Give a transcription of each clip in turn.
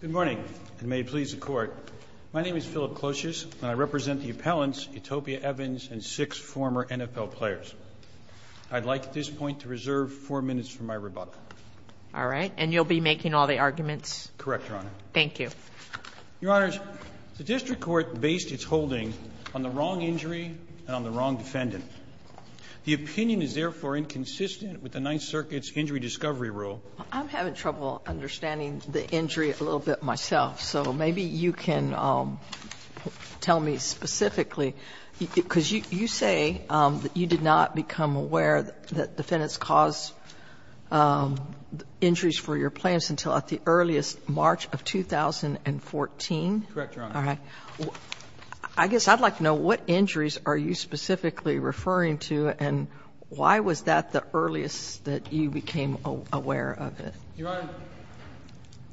Good morning, and may it please the Court. My name is Philip Clotius, and I represent the appellants, Utopia Evans and six former NFL players. I'd like at this point to reserve four minutes for my rebuttal. All right, and you'll be making all the arguments? Correct, Your Honor. Thank you. Your Honors, the District Court based its holding on the wrong injury and on the wrong defendant. The opinion is therefore inconsistent with the Ninth Circuit's Injury Discovery Rule. I'm having trouble understanding the injury a little bit myself, so maybe you can tell me specifically. Because you say that you did not become aware that defendants cause injuries for your players until at the earliest March of 2014? Correct, Your Honor. All right. I guess I'd like to know what injuries are you specifically referring to, and why was that the earliest that you became aware of it? Your Honor,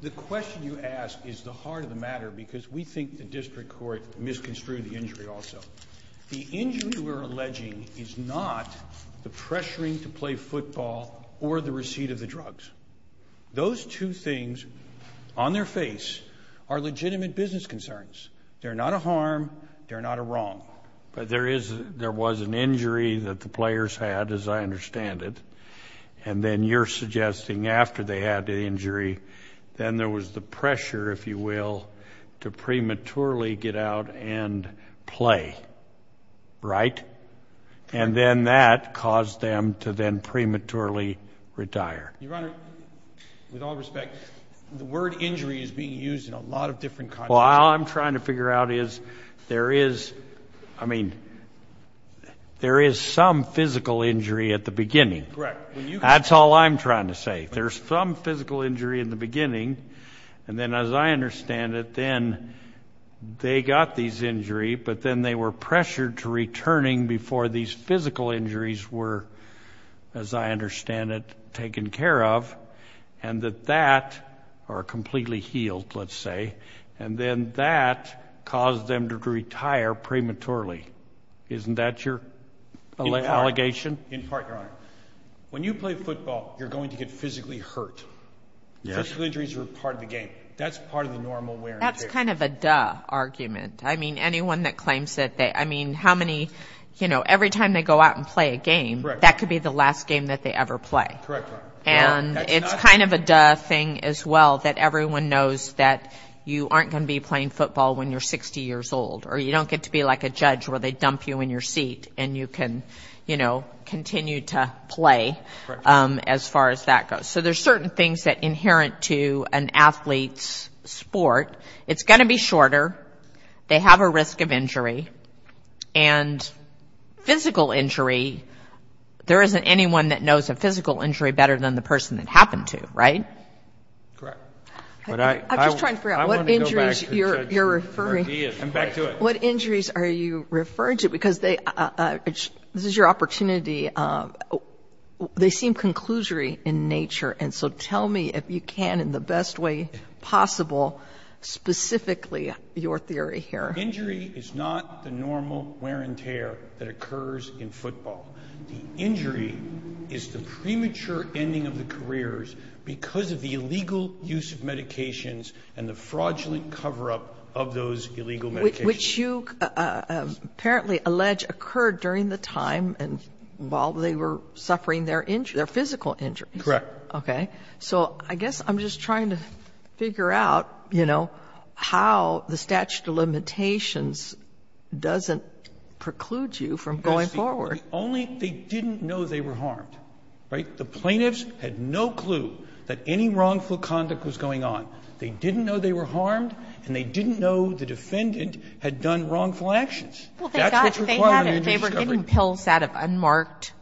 the question you ask is the heart of the matter, because we think the district court misconstrued the injury also. The injury we're alleging is not the pressuring to play football or the receipt of the drugs. Those two things on their face are legitimate business concerns. They're not a harm. They're not a wrong. But there was an injury that the players had, as I understand it, and then you're suggesting after they had the injury, then there was the pressure, if you will, to prematurely get out and play, right? And then that caused them to then prematurely retire. Your Honor, with all respect, the word injury is being used in a lot of different contexts. Well, all I'm trying to figure out is there is, I mean, there is some physical injury at the beginning. Correct. That's all I'm trying to say. There's some physical injury in the beginning, and then as I understand it, then they got this injury, but then they were pressured to returning before these physical injuries were, as I understand it, taken care of, and that that or completely healed, let's say, and then that caused them to retire prematurely. Isn't that your allegation? In part, Your Honor. When you play football, you're going to get physically hurt. Yes. Physical injuries are part of the game. That's part of the normal wear and tear. That's kind of a duh argument. I mean, anyone that claims that they, I mean, how many, you know, every time they go out and play a game, that could be the last game that they ever play. Correct. And it's kind of a duh thing as well that everyone knows that you aren't going to be playing football when you're 60 years old, or you don't get to be like a judge where they dump you in your seat and you can, you know, continue to play as far as that goes. So there's certain things that are inherent to an athlete's sport. It's going to be shorter. They have a risk of injury. And physical injury, there isn't anyone that knows a physical injury better than the person that happened to, right? Correct. I'm just trying to figure out what injuries you're referring. I'm back to it. What injuries are you referring to? This is your opportunity. They seem conclusory in nature. And so tell me if you can, in the best way possible, specifically your theory here. Injury is not the normal wear and tear that occurs in football. The injury is the premature ending of the careers because of the illegal use of medications and the fraudulent cover-up of those illegal medications. Which you apparently allege occurred during the time and while they were suffering their injuries, their physical injuries. Correct. Okay. So I guess I'm just trying to figure out, you know, how the statute of limitations doesn't preclude you from going forward. Only they didn't know they were harmed, right? The plaintiffs had no clue that any wrongful conduct was going on. They didn't know they were harmed and they didn't know the defendant had done wrongful actions. Well, they got it. They had it. They were getting pills that have unmarked.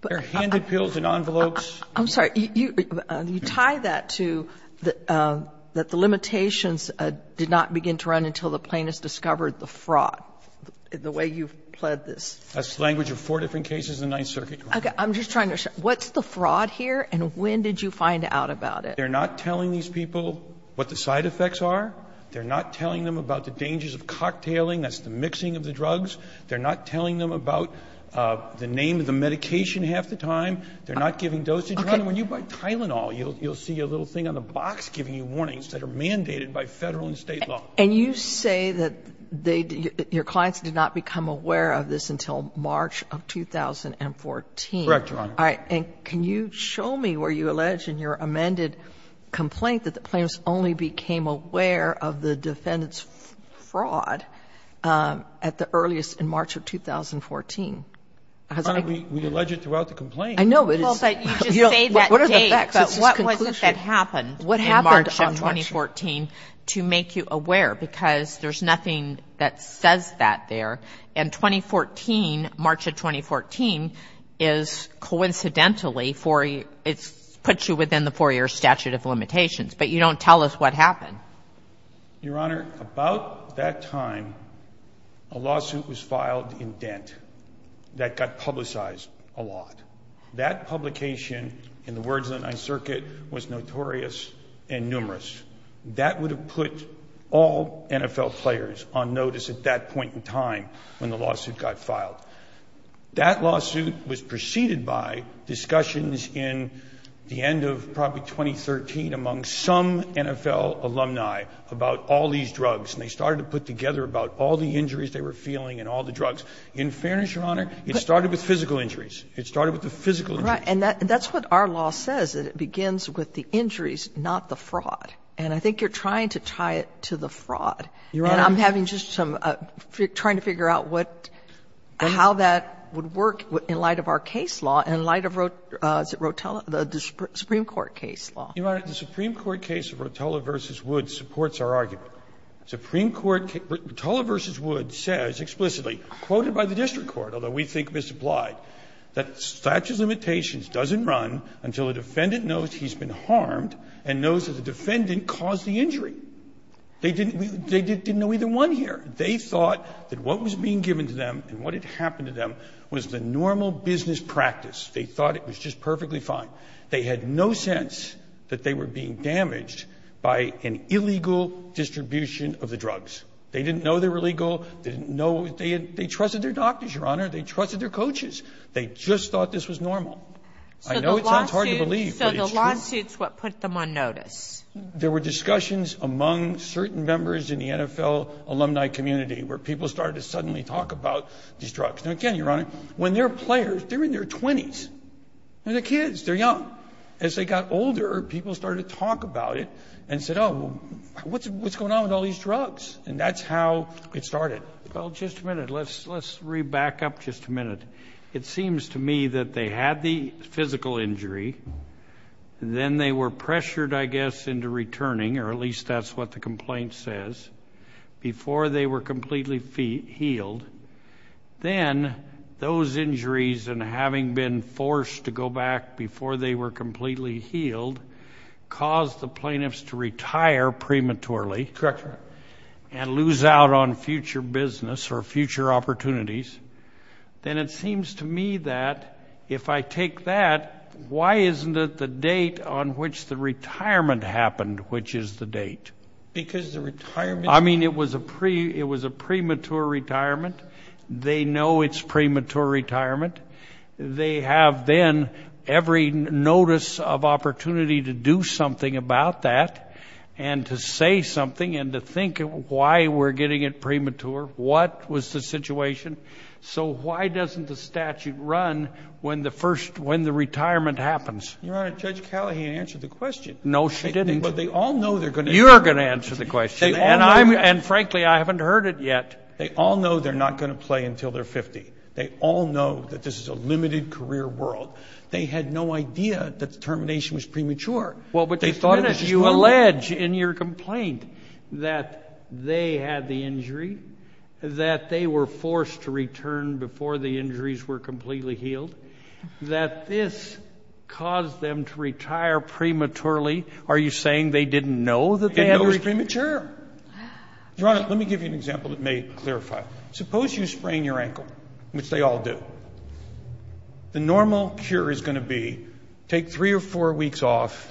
They're handed pills in envelopes. I'm sorry. You tie that to that the limitations did not begin to run until the plaintiffs discovered the fraud, the way you've pled this. That's the language of four different cases in the Ninth Circuit. Okay. I'm just trying to understand. What's the fraud here and when did you find out about it? They're not telling these people what the side effects are. They're not telling them about the dangers of cocktailing. That's the mixing of the drugs. They're not telling them about the name of the medication half the time. They're not giving dosage. Your Honor, when you buy Tylenol, you'll see a little thing on the box giving you warnings that are mandated by Federal and State law. And you say that your clients did not become aware of this until March of 2014. Correct, Your Honor. All right. And can you show me where you allege in your amended complaint that the plaintiffs only became aware of the defendant's fraud at the earliest in March of 2014? Your Honor, we allege it throughout the complaint. I know. But you just say that date. But what was it that happened in March of 2014 to make you aware? Because there's nothing that says that there. And 2014, March of 2014, is coincidentally for you, it puts you within the four-year statute of limitations. But you don't tell us what happened. Your Honor, about that time, a lawsuit was filed in Dent that got publicized a lot. That publication, in the words of the Ninth Circuit, was notorious and numerous. That would have put all NFL players on notice at that point in time when the lawsuit got filed. That lawsuit was preceded by discussions in the end of probably 2013 among some NFL alumni about all these drugs. And they started to put together about all the injuries they were feeling and all the drugs. In fairness, Your Honor, it started with physical injuries. It started with the physical injuries. Right. And that's what our law says, that it begins with the injuries, not the fraud. And I think you're trying to tie it to the fraud. Your Honor. And I'm having just some, trying to figure out what, how that would work in light of our case law and in light of Rotella, the Supreme Court case law. Your Honor, the Supreme Court case of Rotella v. Wood supports our argument. Supreme Court, Rotella v. Wood says explicitly, quoted by the district court, although we think misapplied, that statute of limitations doesn't run until the defendant knows he's been harmed and knows that the defendant caused the injury. They didn't know either one here. They thought that what was being given to them and what had happened to them was the normal business practice. They thought it was just perfectly fine. They had no sense that they were being damaged by an illegal distribution of the drugs. They didn't know they were illegal. They didn't know. They trusted their doctors, Your Honor. They trusted their coaches. They just thought this was normal. I know it sounds hard to believe, but it's true. So the lawsuit's what put them on notice. There were discussions among certain members in the NFL alumni community where people started to suddenly talk about these drugs. Now, again, Your Honor, when they're players, they're in their 20s. They're kids. They're young. As they got older, people started to talk about it and said, oh, what's going on with all these drugs? And that's how it started. Well, just a minute. Let's re-back up just a minute. It seems to me that they had the physical injury. Then they were pressured, I guess, into returning, or at least that's what the complaint says, before they were completely healed. Then those injuries and having been forced to go back before they were completely healed Correct, Your Honor. and lose out on future business or future opportunities, then it seems to me that if I take that, why isn't it the date on which the retirement happened, which is the date? Because the retirement I mean, it was a premature retirement. They know it's premature retirement. They have then every notice of opportunity to do something about that and to say something and to think of why we're getting it premature. What was the situation? So why doesn't the statute run when the retirement happens? Your Honor, Judge Callahan answered the question. No, she didn't. But they all know they're going to You're going to answer the question. And frankly, I haven't heard it yet. They all know they're not going to play until they're 50. They all know that this is a limited career world. They had no idea that the termination was premature. Well, but they thought it was premature. You allege in your complaint that they had the injury, that they were forced to return before the injuries were completely healed, that this caused them to retire prematurely. Are you saying they didn't know that they had They didn't know it was premature. Your Honor, let me give you an example that may clarify. Suppose you sprain your ankle, which they all do. The normal cure is going to be take three or four weeks off,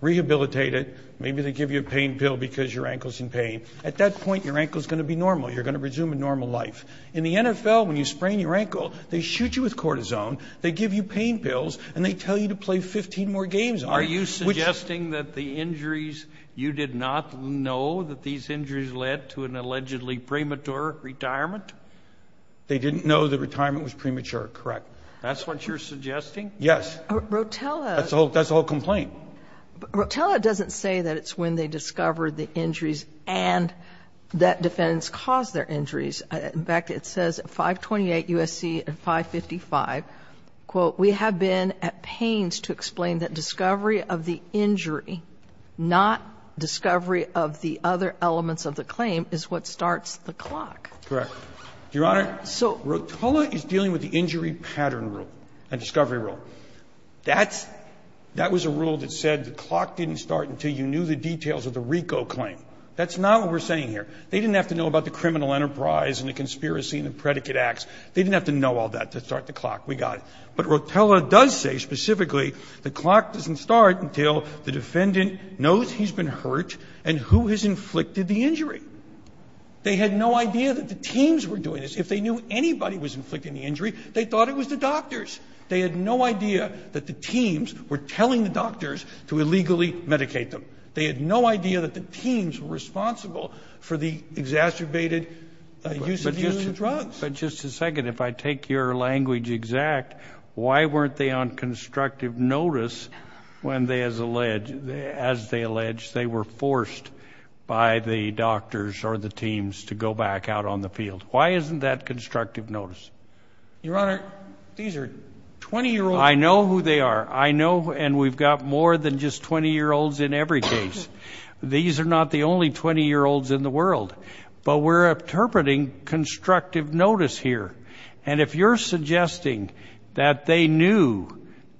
rehabilitate it. Maybe they give you a pain pill because your ankle's in pain. At that point, your ankle's going to be normal. You're going to resume a normal life. In the NFL, when you sprain your ankle, they shoot you with cortisone, they give you pain pills, and they tell you to play 15 more games. Are you suggesting that the injuries, you did not know that these injuries led to an allegedly premature retirement? They didn't know the retirement was premature, correct. That's what you're suggesting? Yes. That's the whole complaint. Rotella doesn't say that it's when they discovered the injuries and that defendants caused their injuries. In fact, it says at 528 U.S.C. and 555, quote, we have been at pains to explain that discovery of the injury, not discovery of the other elements of the claim, is what starts the clock. Correct. Your Honor, so Rotella is dealing with the injury pattern rule and discovery rule. That's – that was a rule that said the clock didn't start until you knew the details of the RICO claim. That's not what we're saying here. They didn't have to know about the criminal enterprise and the conspiracy and the predicate acts. They didn't have to know all that to start the clock. We got it. But Rotella does say specifically the clock doesn't start until the defendant knows he's been hurt and who has inflicted the injury. They had no idea that the teams were doing this. If they knew anybody was inflicting the injury, they thought it was the doctors. They had no idea that the teams were telling the doctors to illegally medicate them. They had no idea that the teams were responsible for the exacerbated use of drugs. But just a second. If I take your language exact, why weren't they on constructive notice when they, as alleged – as they alleged, they were forced by the doctors or the teams to go back out on the field? Why isn't that constructive notice? Your Honor, these are 20-year-olds. I know who they are. I know – and we've got more than just 20-year-olds in every case. These are not the only 20-year-olds in the world. But we're interpreting constructive notice here. And if you're suggesting that they knew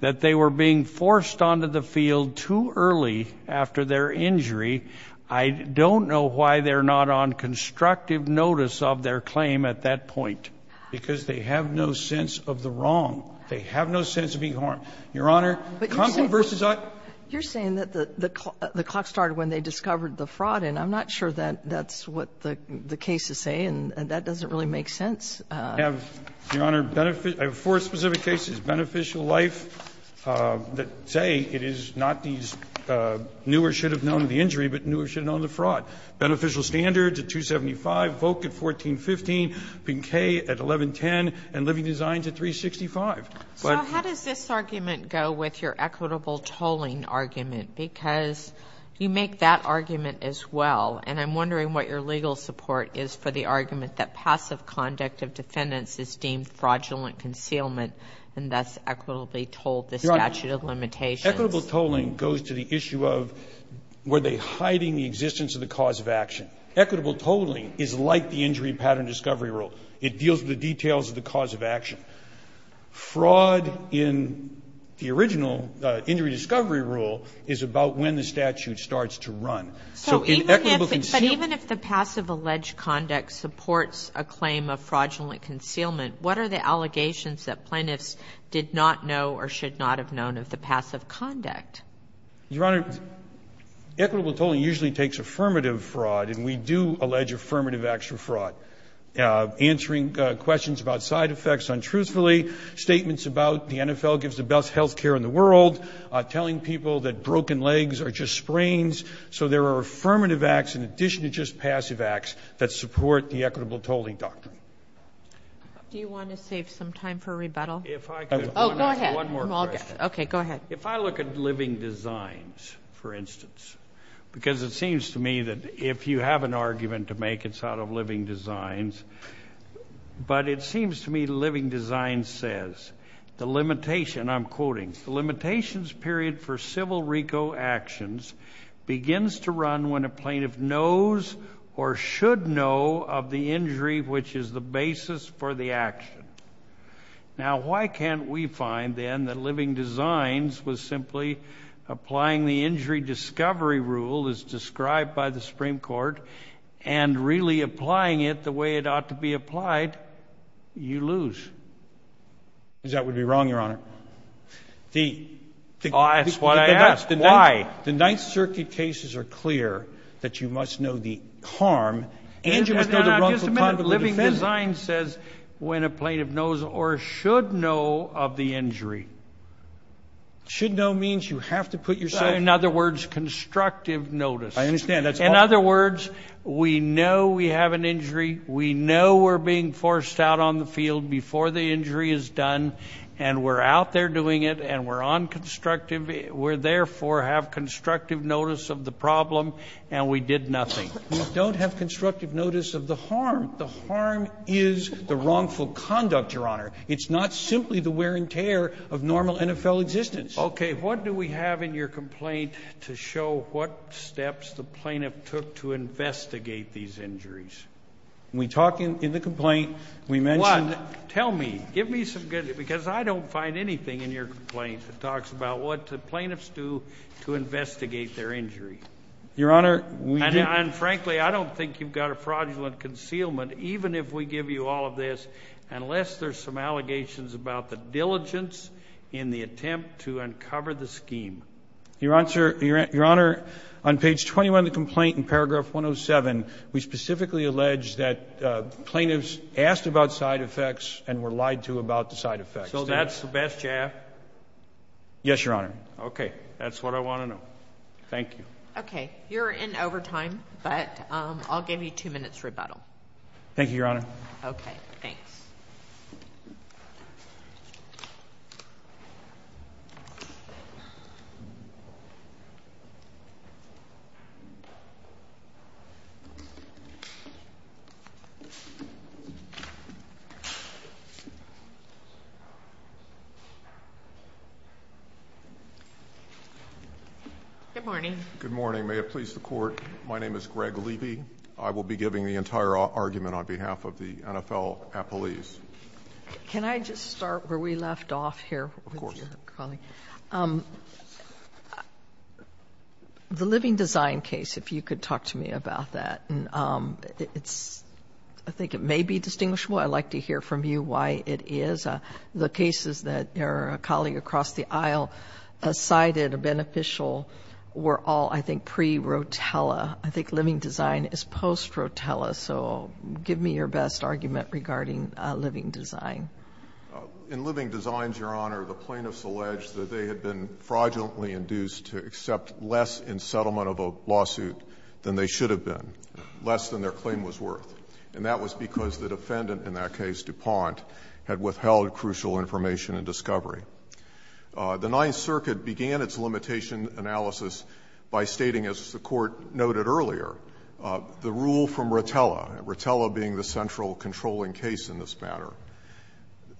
that they were being forced onto the field too early after their injury, I don't know why they're not on constructive notice of their claim at that point. Because they have no sense of the wrong. They have no sense of being harmed. Your Honor, conflict versus – You're saying that the clock started when they discovered the fraud. And I'm not sure that that's what the cases say. And that doesn't really make sense. I have, Your Honor, four specific cases, beneficial life, that say it is not these newer should-have-known-of-the-injury, but newer should-have-known-of-the-fraud. Beneficial standards at 275, Volk at 1415, Pinkay at 1110, and living designs at 365. So how does this argument go with your equitable tolling argument? Because you make that argument as well, and I'm wondering what your legal support is for the argument that passive conduct of defendants is deemed fraudulent concealment and thus equitably tolled the statute of limitations. Your Honor, equitable tolling goes to the issue of were they hiding the existence of the cause of action. Equitable tolling is like the injury pattern discovery rule. It deals with the details of the cause of action. Fraud in the original injury discovery rule is about when the statute starts to run. So in equitable concealment ---- But even if the passive alleged conduct supports a claim of fraudulent concealment, what are the allegations that plaintiffs did not know or should not have known of the passive conduct? Your Honor, equitable tolling usually takes affirmative fraud, and we do allege affirmative extra fraud. Answering questions about side effects untruthfully, statements about the NFL gives the best health care in the world, telling people that broken legs are just sprains so there are affirmative acts in addition to just passive acts that support the equitable tolling doctrine. Do you want to save some time for rebuttal? Oh, go ahead. One more question. Okay, go ahead. If I look at living designs, for instance, because it seems to me that if you have an argument to make, it's out of living designs, but it seems to me living designs says the limitation, I'm quoting, the limitations period for civil RICO actions begins to run when a plaintiff knows or should know of the injury which is the basis for the action. Now, why can't we find then that living designs was simply applying the injury discovery rule as described by the Supreme Court and really applying it the way it ought to be applied? You lose. That would be wrong, Your Honor. That's what I asked. Why? The Ninth Circuit cases are clear that you must know the harm and you must know the wrongful conduct of the defendant. Living designs says when a plaintiff knows or should know of the injury. Should know means you have to put yourself... In other words, constructive notice. I understand. In other words, we know we have an injury. We know we're being forced out on the field before the injury is done and we're out there doing it and we're on constructive. We, therefore, have constructive notice of the problem and we did nothing. We don't have constructive notice of the harm. The harm is the wrongful conduct, Your Honor. It's not simply the wear and tear of normal NFL existence. Okay. What do we have in your complaint to show what steps the plaintiff took to investigate these injuries? We talk in the complaint. We mentioned... What? Tell me. Give me some good... Because I don't find anything in your complaint that talks about what the plaintiffs do to investigate their injury. Your Honor... And frankly, I don't think you've got a fraudulent concealment even if we give you all of this unless there's some allegations about the diligence in the attempt to uncover the scheme. Your Honor, on page 21 of the complaint in paragraph 107, we specifically allege that plaintiffs asked about side effects and were lied to about the side effects. So that's the best you have? Yes, Your Honor. Okay. That's what I want to know. Thank you. Okay. You're in overtime, but I'll give you two minutes rebuttal. Thank you, Your Honor. Okay. Thanks. Thank you. Good morning. Good morning. May it please the Court, my name is Greg Levy. I will be giving the entire argument on behalf of the NFL appellees. Can I just start where we left off here? Of course. The living design case, if you could talk to me about that. I think it may be distinguishable. I'd like to hear from you why it is. The cases that a colleague across the aisle cited, a beneficial, were all, I think, pre-Rotella. I think living design is post-Rotella. So give me your best argument regarding living design. In living designs, Your Honor, the plaintiffs alleged that they had been fraudulently induced to accept less in settlement of a lawsuit than they should have been, less than their claim was worth. And that was because the defendant in that case, DuPont, had withheld crucial information and discovery. The Ninth Circuit began its limitation analysis by stating, as the Court noted earlier, the rule from Rotella, Rotella being the central controlling case in this matter.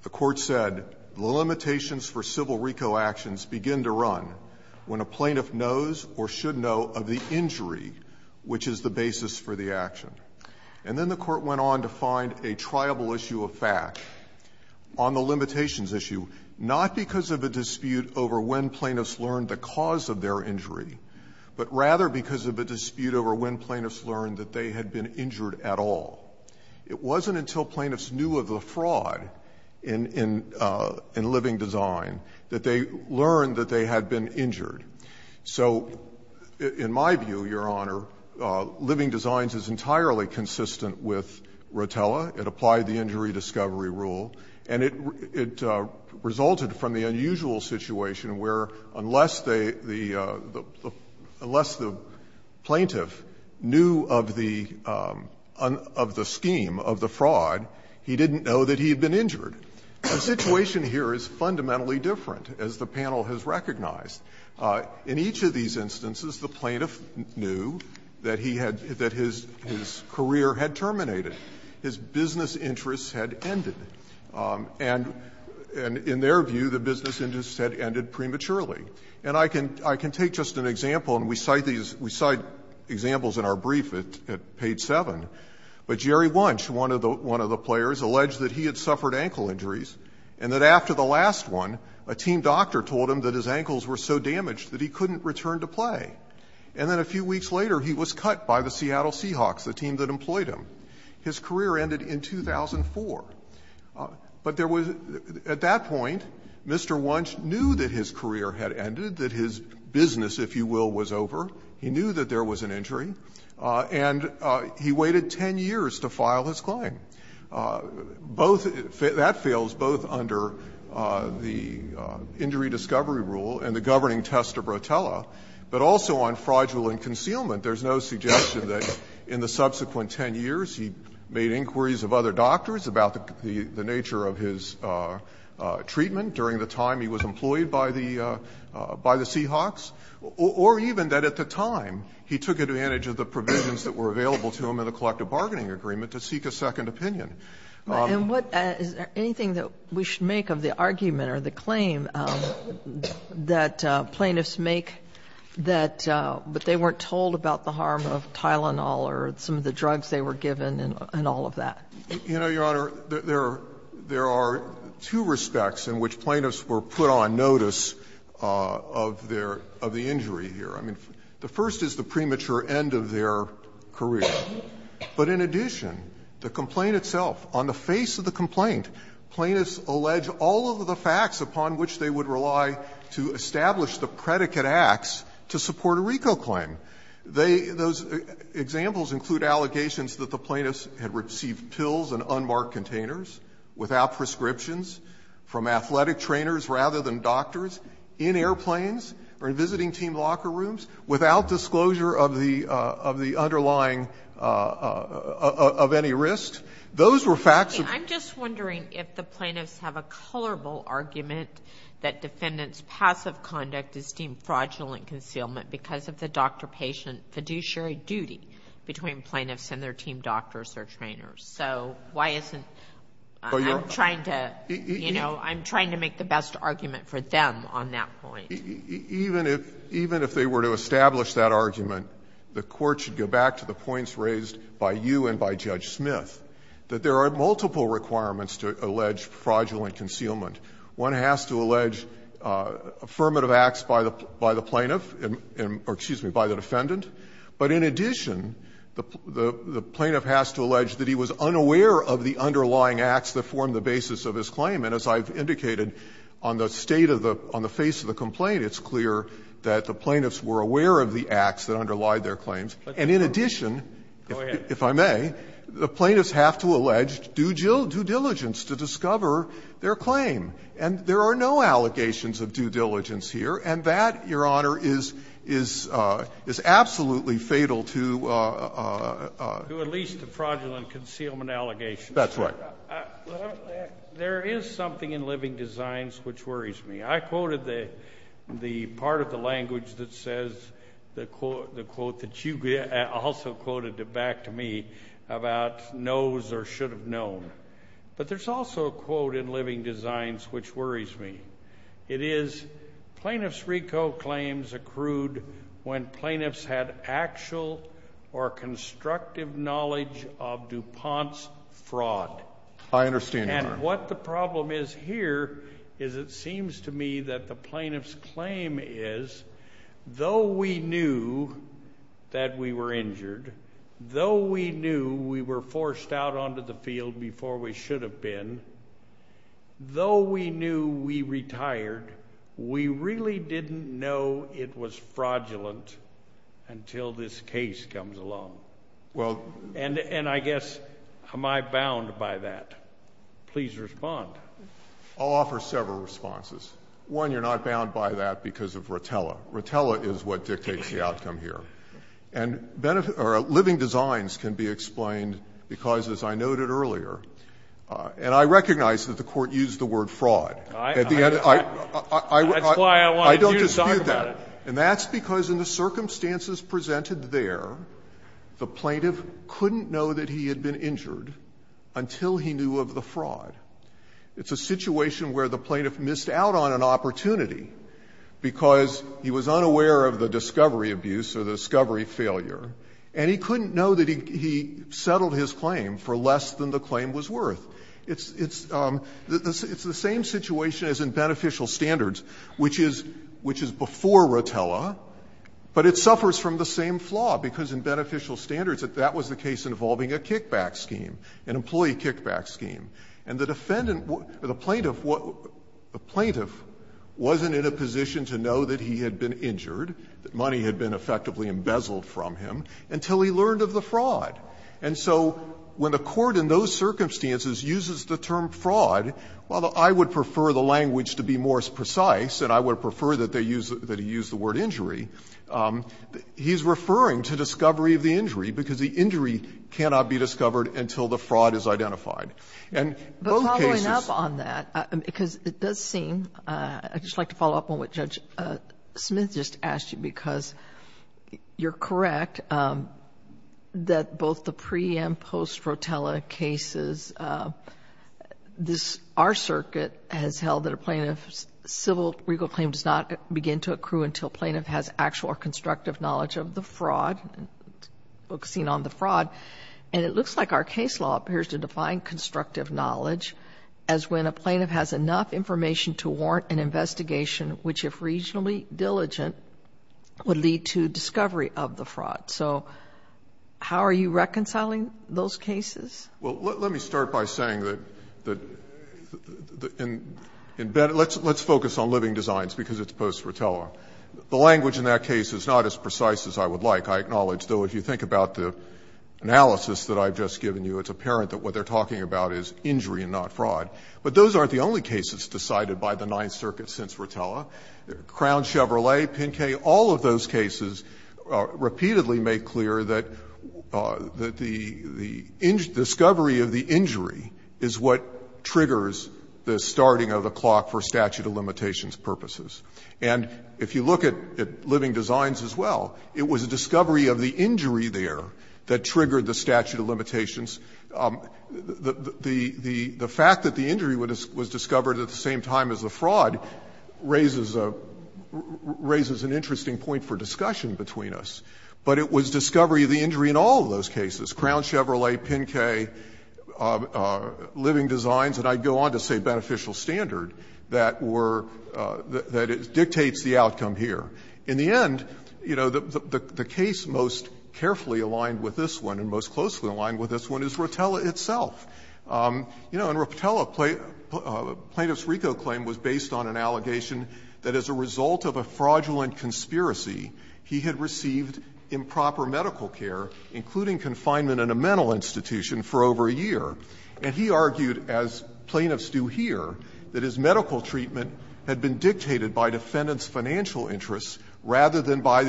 The Court said, the limitations for civil RICO actions begin to run when a plaintiff knows or should know of the injury which is the basis for the action. And then the Court went on to find a triable issue of fact on the limitations issue, not because of a dispute over when plaintiffs learned the cause of their injury, but rather because of a dispute over when plaintiffs learned that they had been injured at all. It wasn't until plaintiffs knew of the fraud in living design that they learned that they had been injured. So in my view, Your Honor, living designs is entirely consistent with Rotella. It applied the injury discovery rule. And it resulted from the unusual situation where, unless the plaintiff knew of the scheme, of the fraud, he didn't know that he had been injured. The situation here is fundamentally different, as the panel has recognized. In each of these instances, the plaintiff knew that he had, that his career had terminated. His business interests had ended. And in their view, the business interests had ended prematurely. And I can take just an example, and we cite these, we cite examples in our brief at page 7, but Jerry Wunsch, one of the players, alleged that he had suffered ankle injuries and that after the last one, a team doctor told him that his ankles were so damaged that he couldn't return to play. And then a few weeks later, he was cut by the Seattle Seahawks, the team that employed him. His career ended in 2004. But there was, at that point, Mr. Wunsch knew that his career had ended, that his business, if you will, was over. He knew that there was an injury. And he waited 10 years to file his claim. Both, that fails both under the injury discovery rule and the governing test of Rotella. But also on fraudulent concealment, there's no suggestion that in the subsequent 2 and 10 years, he made inquiries of other doctors about the nature of his treatment during the time he was employed by the Seahawks, or even that at the time, he took advantage of the provisions that were available to him in the collective bargaining agreement to seek a second opinion. And what, is there anything that we should make of the argument or the claim that plaintiffs make that, but they weren't told about the harm of Tylenol or some of the drugs they were given and all of that? You know, Your Honor, there are two respects in which plaintiffs were put on notice of their, of the injury here. I mean, the first is the premature end of their career. But in addition, the complaint itself, on the face of the complaint, plaintiffs allege all of the facts upon which they would rely to establish the predicate acts to support a RICO claim. They, those examples include allegations that the plaintiffs had received pills in unmarked containers, without prescriptions, from athletic trainers rather than doctors, in airplanes, or in visiting team locker rooms, without disclosure of the, of the underlying, of any risk. Those were facts of the case. I'm just wondering if the plaintiffs have a colorable argument that defendants' passive conduct is deemed fraudulent concealment because of the doctor-patient fiduciary duty between plaintiffs and their team doctors or trainers. So why isn't, I'm trying to, you know, I'm trying to make the best argument for them on that point. Even if, even if they were to establish that argument, the Court should go back to the points raised by you and by Judge Smith, that there are multiple requirements to allege fraudulent concealment. One has to allege affirmative acts by the, by the plaintiff, or excuse me, by the defendant. But in addition, the, the plaintiff has to allege that he was unaware of the underlying acts that formed the basis of his claim. And as I've indicated, on the state of the, on the face of the complaint, it's clear that the plaintiffs were aware of the acts that underlied their claims. And in addition, if I may, the plaintiffs have to allege due diligence to discover their claim. And there are no allegations of due diligence here. And that, Your Honor, is, is, is absolutely fatal to, to at least the fraudulent concealment allegations. That's right. There is something in living designs which worries me. I quoted the, the part of the language that says, the quote, the quote that you also quoted back to me about knows or should have known. But there's also a quote in living designs which worries me. It is, plaintiff's RICO claims accrued when plaintiffs had actual or constructive knowledge of DuPont's fraud. I understand, Your Honor. And what the problem is here is it seems to me that the plaintiff's claim is, though we knew that we were injured, though we knew we were forced out onto the field before we should have been, though we knew we retired, we really didn't know it was fraudulent until this case comes along. Well. And, and I guess, am I bound by that? Please respond. I'll offer several responses. One, you're not bound by that because of Rotella. Rotella is what dictates the outcome here. And living designs can be explained because, as I noted earlier, and I recognize that the Court used the word fraud. At the end of the day, I, I, I, I, I, I, I don't dispute that. And that's because in the circumstances presented there, the plaintiff couldn't know that he had been injured until he knew of the fraud. It's a situation where the plaintiff missed out on an opportunity because he was unaware of the discovery abuse or the discovery failure, and he couldn't know that he, he settled his claim for less than the claim was worth. It's, it's, it's the same situation as in Beneficial Standards, which is, which is before Rotella, but it suffers from the same flaw, because in Beneficial Standards that that was the case involving a kickback scheme, an employee kickback scheme, and the defendant, the plaintiff, the plaintiff wasn't in a position to know that he had been injured, that money had been effectively embezzled from him, until he learned of the fraud. And so when the Court in those circumstances uses the term fraud, while I would prefer the language to be more precise, and I would prefer that they use, that he use the word injury, he's referring to discovery of the injury, because the injury cannot be discovered until the fraud is identified. And both cases But following up on that, because it does seem, I'd just like to follow up on what Judge Smith just asked you, because you're correct that both the pre-and post-Rotella cases, this, our circuit has held that a plaintiff's civil legal claim does not begin to accrue until a plaintiff has actual or constructive knowledge of the fraud, focusing on the fraud, and it looks like our case law appears to define constructive knowledge as when a plaintiff has enough information to warrant an investigation which, if regionally diligent, would lead to discovery of the fraud. So how are you reconciling those cases? Well, let me start by saying that in Ben, let's focus on living designs, because it's post-Rotella. The language in that case is not as precise as I would like. I acknowledge, though, if you think about the analysis that I've just given you, it's apparent that what they're talking about is injury and not fraud. But those aren't the only cases decided by the Ninth Circuit since Rotella. Crown, Chevrolet, Pinke, all of those cases repeatedly make clear that the discovery of the injury is what triggers the starting of the clock for statute of limitations purposes. And if you look at living designs as well, it was a discovery of the injury there that triggered the statute of limitations. The fact that the injury was discovered at the same time as the fraud raises an interesting point for discussion between us. But it was discovery of the injury in all of those cases, Crown, Chevrolet, Pinke, living designs, and I'd go on to say beneficial standard, that were the issues that dictates the outcome here. In the end, you know, the case most carefully aligned with this one and most closely aligned with this one is Rotella itself. You know, in Rotella, Plaintiff's RICO claim was based on an allegation that as a result of a fraudulent conspiracy, he had received improper medical care, including confinement in a mental institution, for over a year. And he argued, as plaintiffs do here, that his medical treatment had been dictated by defendant's financial interests rather than by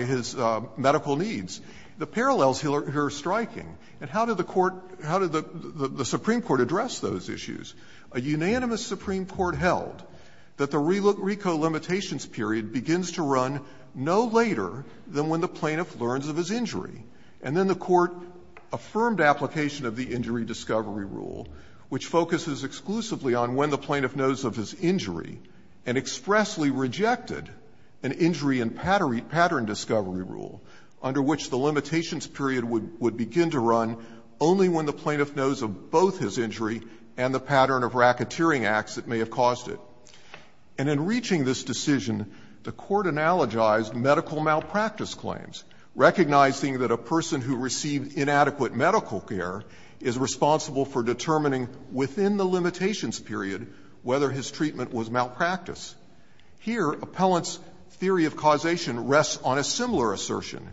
his medical needs. The parallels here are striking. And how did the Court – how did the Supreme Court address those issues? A unanimous Supreme Court held that the RICO limitations period begins to run no later than when the plaintiff learns of his injury. And then the Court affirmed application of the injury discovery rule, which focuses exclusively on when the plaintiff knows of his injury, and expressly rejected an injury and pattern discovery rule, under which the limitations period would begin to run only when the plaintiff knows of both his injury and the pattern of racketeering acts that may have caused it. And in reaching this decision, the Court analogized medical malpractice claims, recognizing that a person who received inadequate medical care is responsible for determining within the limitations period whether his treatment was malpractice. Here, Appellant's theory of causation rests on a similar assertion,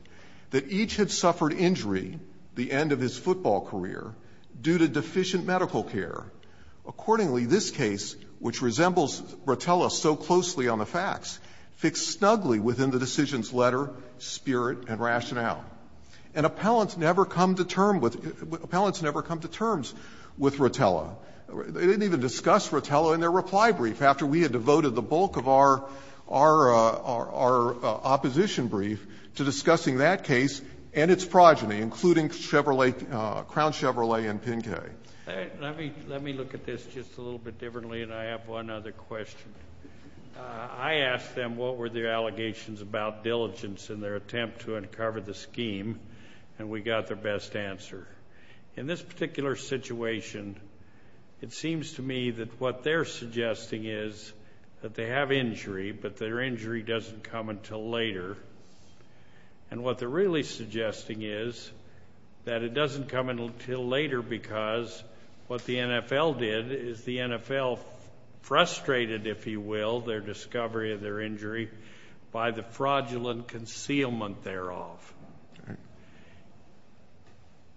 that each had suffered injury the end of his football career due to deficient medical care. Accordingly, this case, which resembles Bratella so closely on the facts, fits snugly within the decision's letter, spirit, and rationale. And Appellant's never come to term with Ratella. They didn't even discuss Ratella in their reply brief, after we had devoted the bulk of our opposition brief to discussing that case and its progeny, including Chevrolet, Crown Chevrolet and Pinke. Let me look at this just a little bit differently, and I have one other question. I asked them what were their allegations about diligence in their attempt to uncover the scheme, and we got their best answer. In this particular situation, it seems to me that what they're suggesting is that they have injury, but their injury doesn't come until later. And what they're really suggesting is that it doesn't come until later, because what the NFL did is the NFL frustrated, if you will, their discovery of their injury by the fraudulent concealment thereof.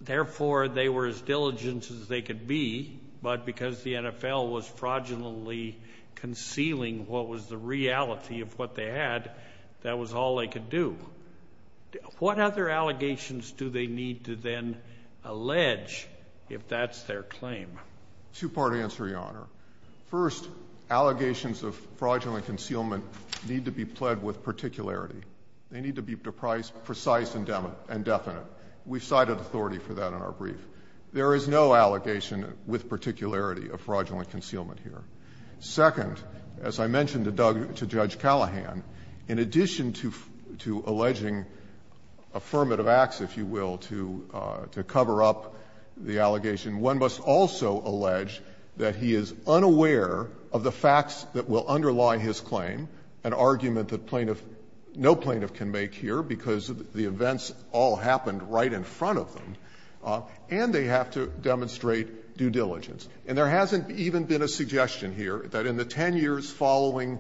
Therefore, they were as diligent as they could be, but because the NFL was fraudulently concealing what was the reality of what they had, that was all they could do. What other allegations do they need to then allege if that's their claim? Two-part answer, Your Honor. First, allegations of fraudulent concealment need to be pled with particularity. They need to be precise and definite. We've cited authority for that in our brief. There is no allegation with particularity of fraudulent concealment here. Second, as I mentioned to Judge Callahan, in addition to alleging affirmative acts, if you will, to cover up the allegation, one must also allege that he is unaware of the facts that will underlie his claim, an argument that plaintiff no plaintiff can make here because the events all happened right in front of them, and they have to demonstrate due diligence. And there hasn't even been a suggestion here that in the 10 years following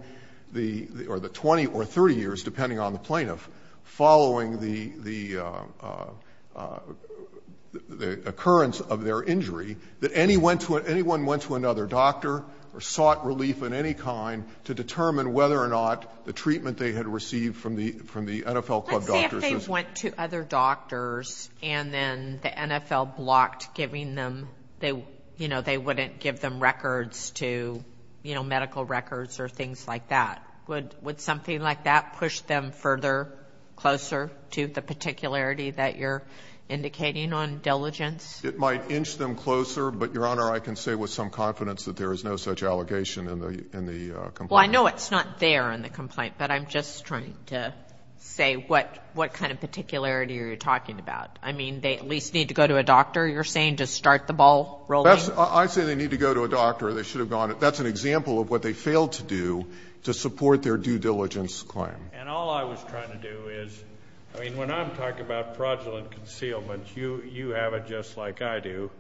the or the 20 or 30 years, depending on the plaintiff, following the occurrence of their injury, that anyone went to another doctor or sought relief of any kind to determine whether or not the treatment they had received from the NFL club doctors was. Sotomayor, I see if they went to other doctors and then the NFL blocked giving them, they wouldn't give them records to medical records or things like that. Would something like that push them further, closer to the particularity that you're indicating on diligence? It might inch them closer, but, Your Honor, I can say with some confidence that there is no such allegation in the complaint. Well, I know it's not there in the complaint, but I'm just trying to say what kind of particularity are you talking about. I mean, they at least need to go to a doctor, you're saying, to start the ball rolling? I say they need to go to a doctor. They should have gone. That's an example of what they failed to do to support their due diligence claim. And all I was trying to do is, I mean, when I'm talking about fraudulent concealment, you have it just like I do.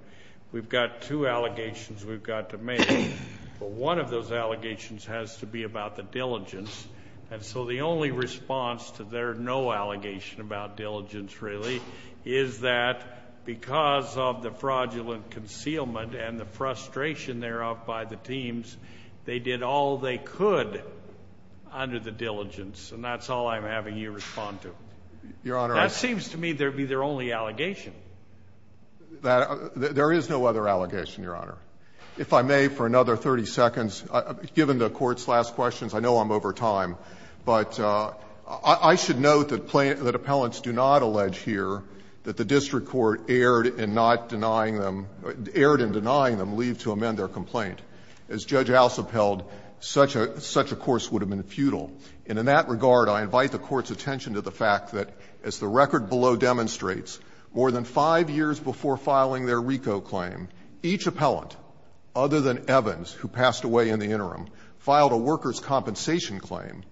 We've got two allegations we've got to make, but one of those allegations has to be about the diligence. And so the only response to their no allegation about diligence, really, is that because of the fraudulent concealment and the frustration thereof by the teams, they did all they could under the diligence, and that's all I'm having you respond to. Your Honor, I seems to me that would be their only allegation. There is no other allegation, Your Honor. If I may, for another 30 seconds, given the Court's last questions, I know I'm over time, but I should note that appellants do not allege here that the district court erred in not denying them or erred in denying them leave to amend their complaint. As Judge Alsop held, such a course would have been futile. And in that regard, I invite the Court's attention to the fact that as the record below demonstrates, more than 5 years before filing their RICO claim, each appellant, other than Evans, who passed away in the interim, filed a workers' compensation claim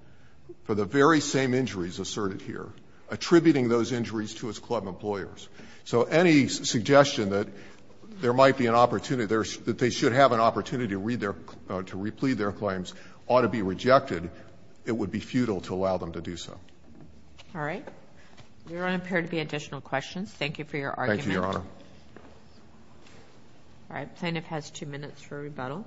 for the very same injuries asserted here, attributing those injuries to his club employers. So any suggestion that there might be an opportunity, that they should have an opportunity to read their or to replead their claims ought to be rejected. It would be futile to allow them to do so. All right. There don't appear to be additional questions. Thank you for your argument. All right. The plaintiff has two minutes for rebuttal.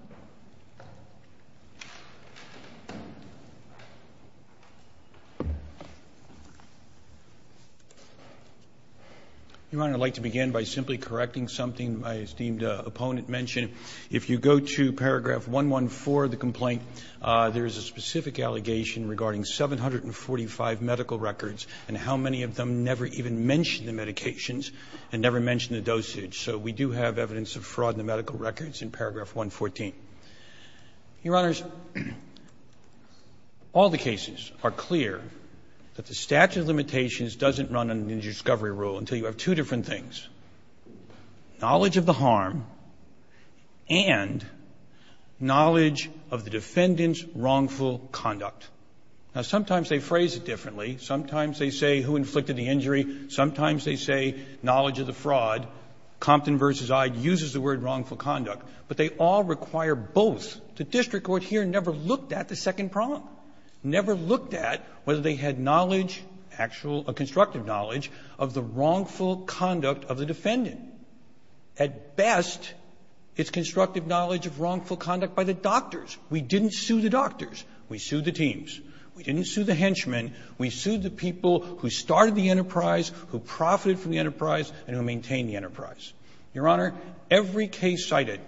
Your Honor, I'd like to begin by simply correcting something my esteemed opponent mentioned. If you go to paragraph 114 of the complaint, there is a specific allegation regarding 745 medical records and how many of them never even mention the medications and never mention the dosage. So we do have evidence of fraud in the medical records in paragraph 114. Your Honors, all the cases are clear that the statute of limitations doesn't run under the injury discovery rule until you have two different things, knowledge of the harm and knowledge of the defendant's wrongful conduct. Now, sometimes they phrase it differently. Sometimes they say who inflicted the injury. Sometimes they say knowledge of the fraud. Compton v. Ide uses the word wrongful conduct. But they all require both. The district court here never looked at the second problem, never looked at whether they had knowledge, actual constructive knowledge, of the wrongful conduct of the defendant. At best, it's constructive knowledge of wrongful conduct by the doctors. We didn't sue the doctors. We sued the teams. We didn't sue the henchmen. We sued the people who started the enterprise, who profited from the enterprise, and who maintain the enterprise. Your Honor, every case cited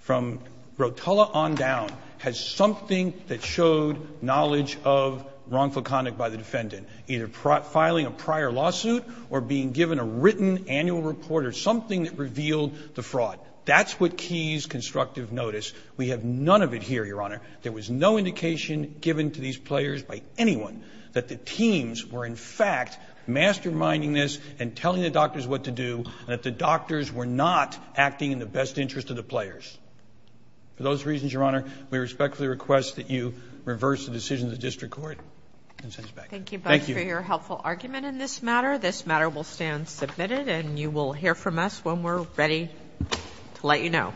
from Rotella on down has something that showed knowledge of wrongful conduct by the defendant, either filing a prior lawsuit or being given a written annual report or something that revealed the fraud. That's what keys constructive notice. We have none of it here, Your Honor. There was no indication given to these players by anyone that the teams were, in fact, masterminding this and telling the doctors what to do, and that the doctors were not acting in the best interest of the players. For those reasons, Your Honor, we respectfully request that you reverse the decision of the district court and send us back. Thank you both for your helpful argument in this matter. This matter will stand submitted, and you will hear from us when we're ready to let you know.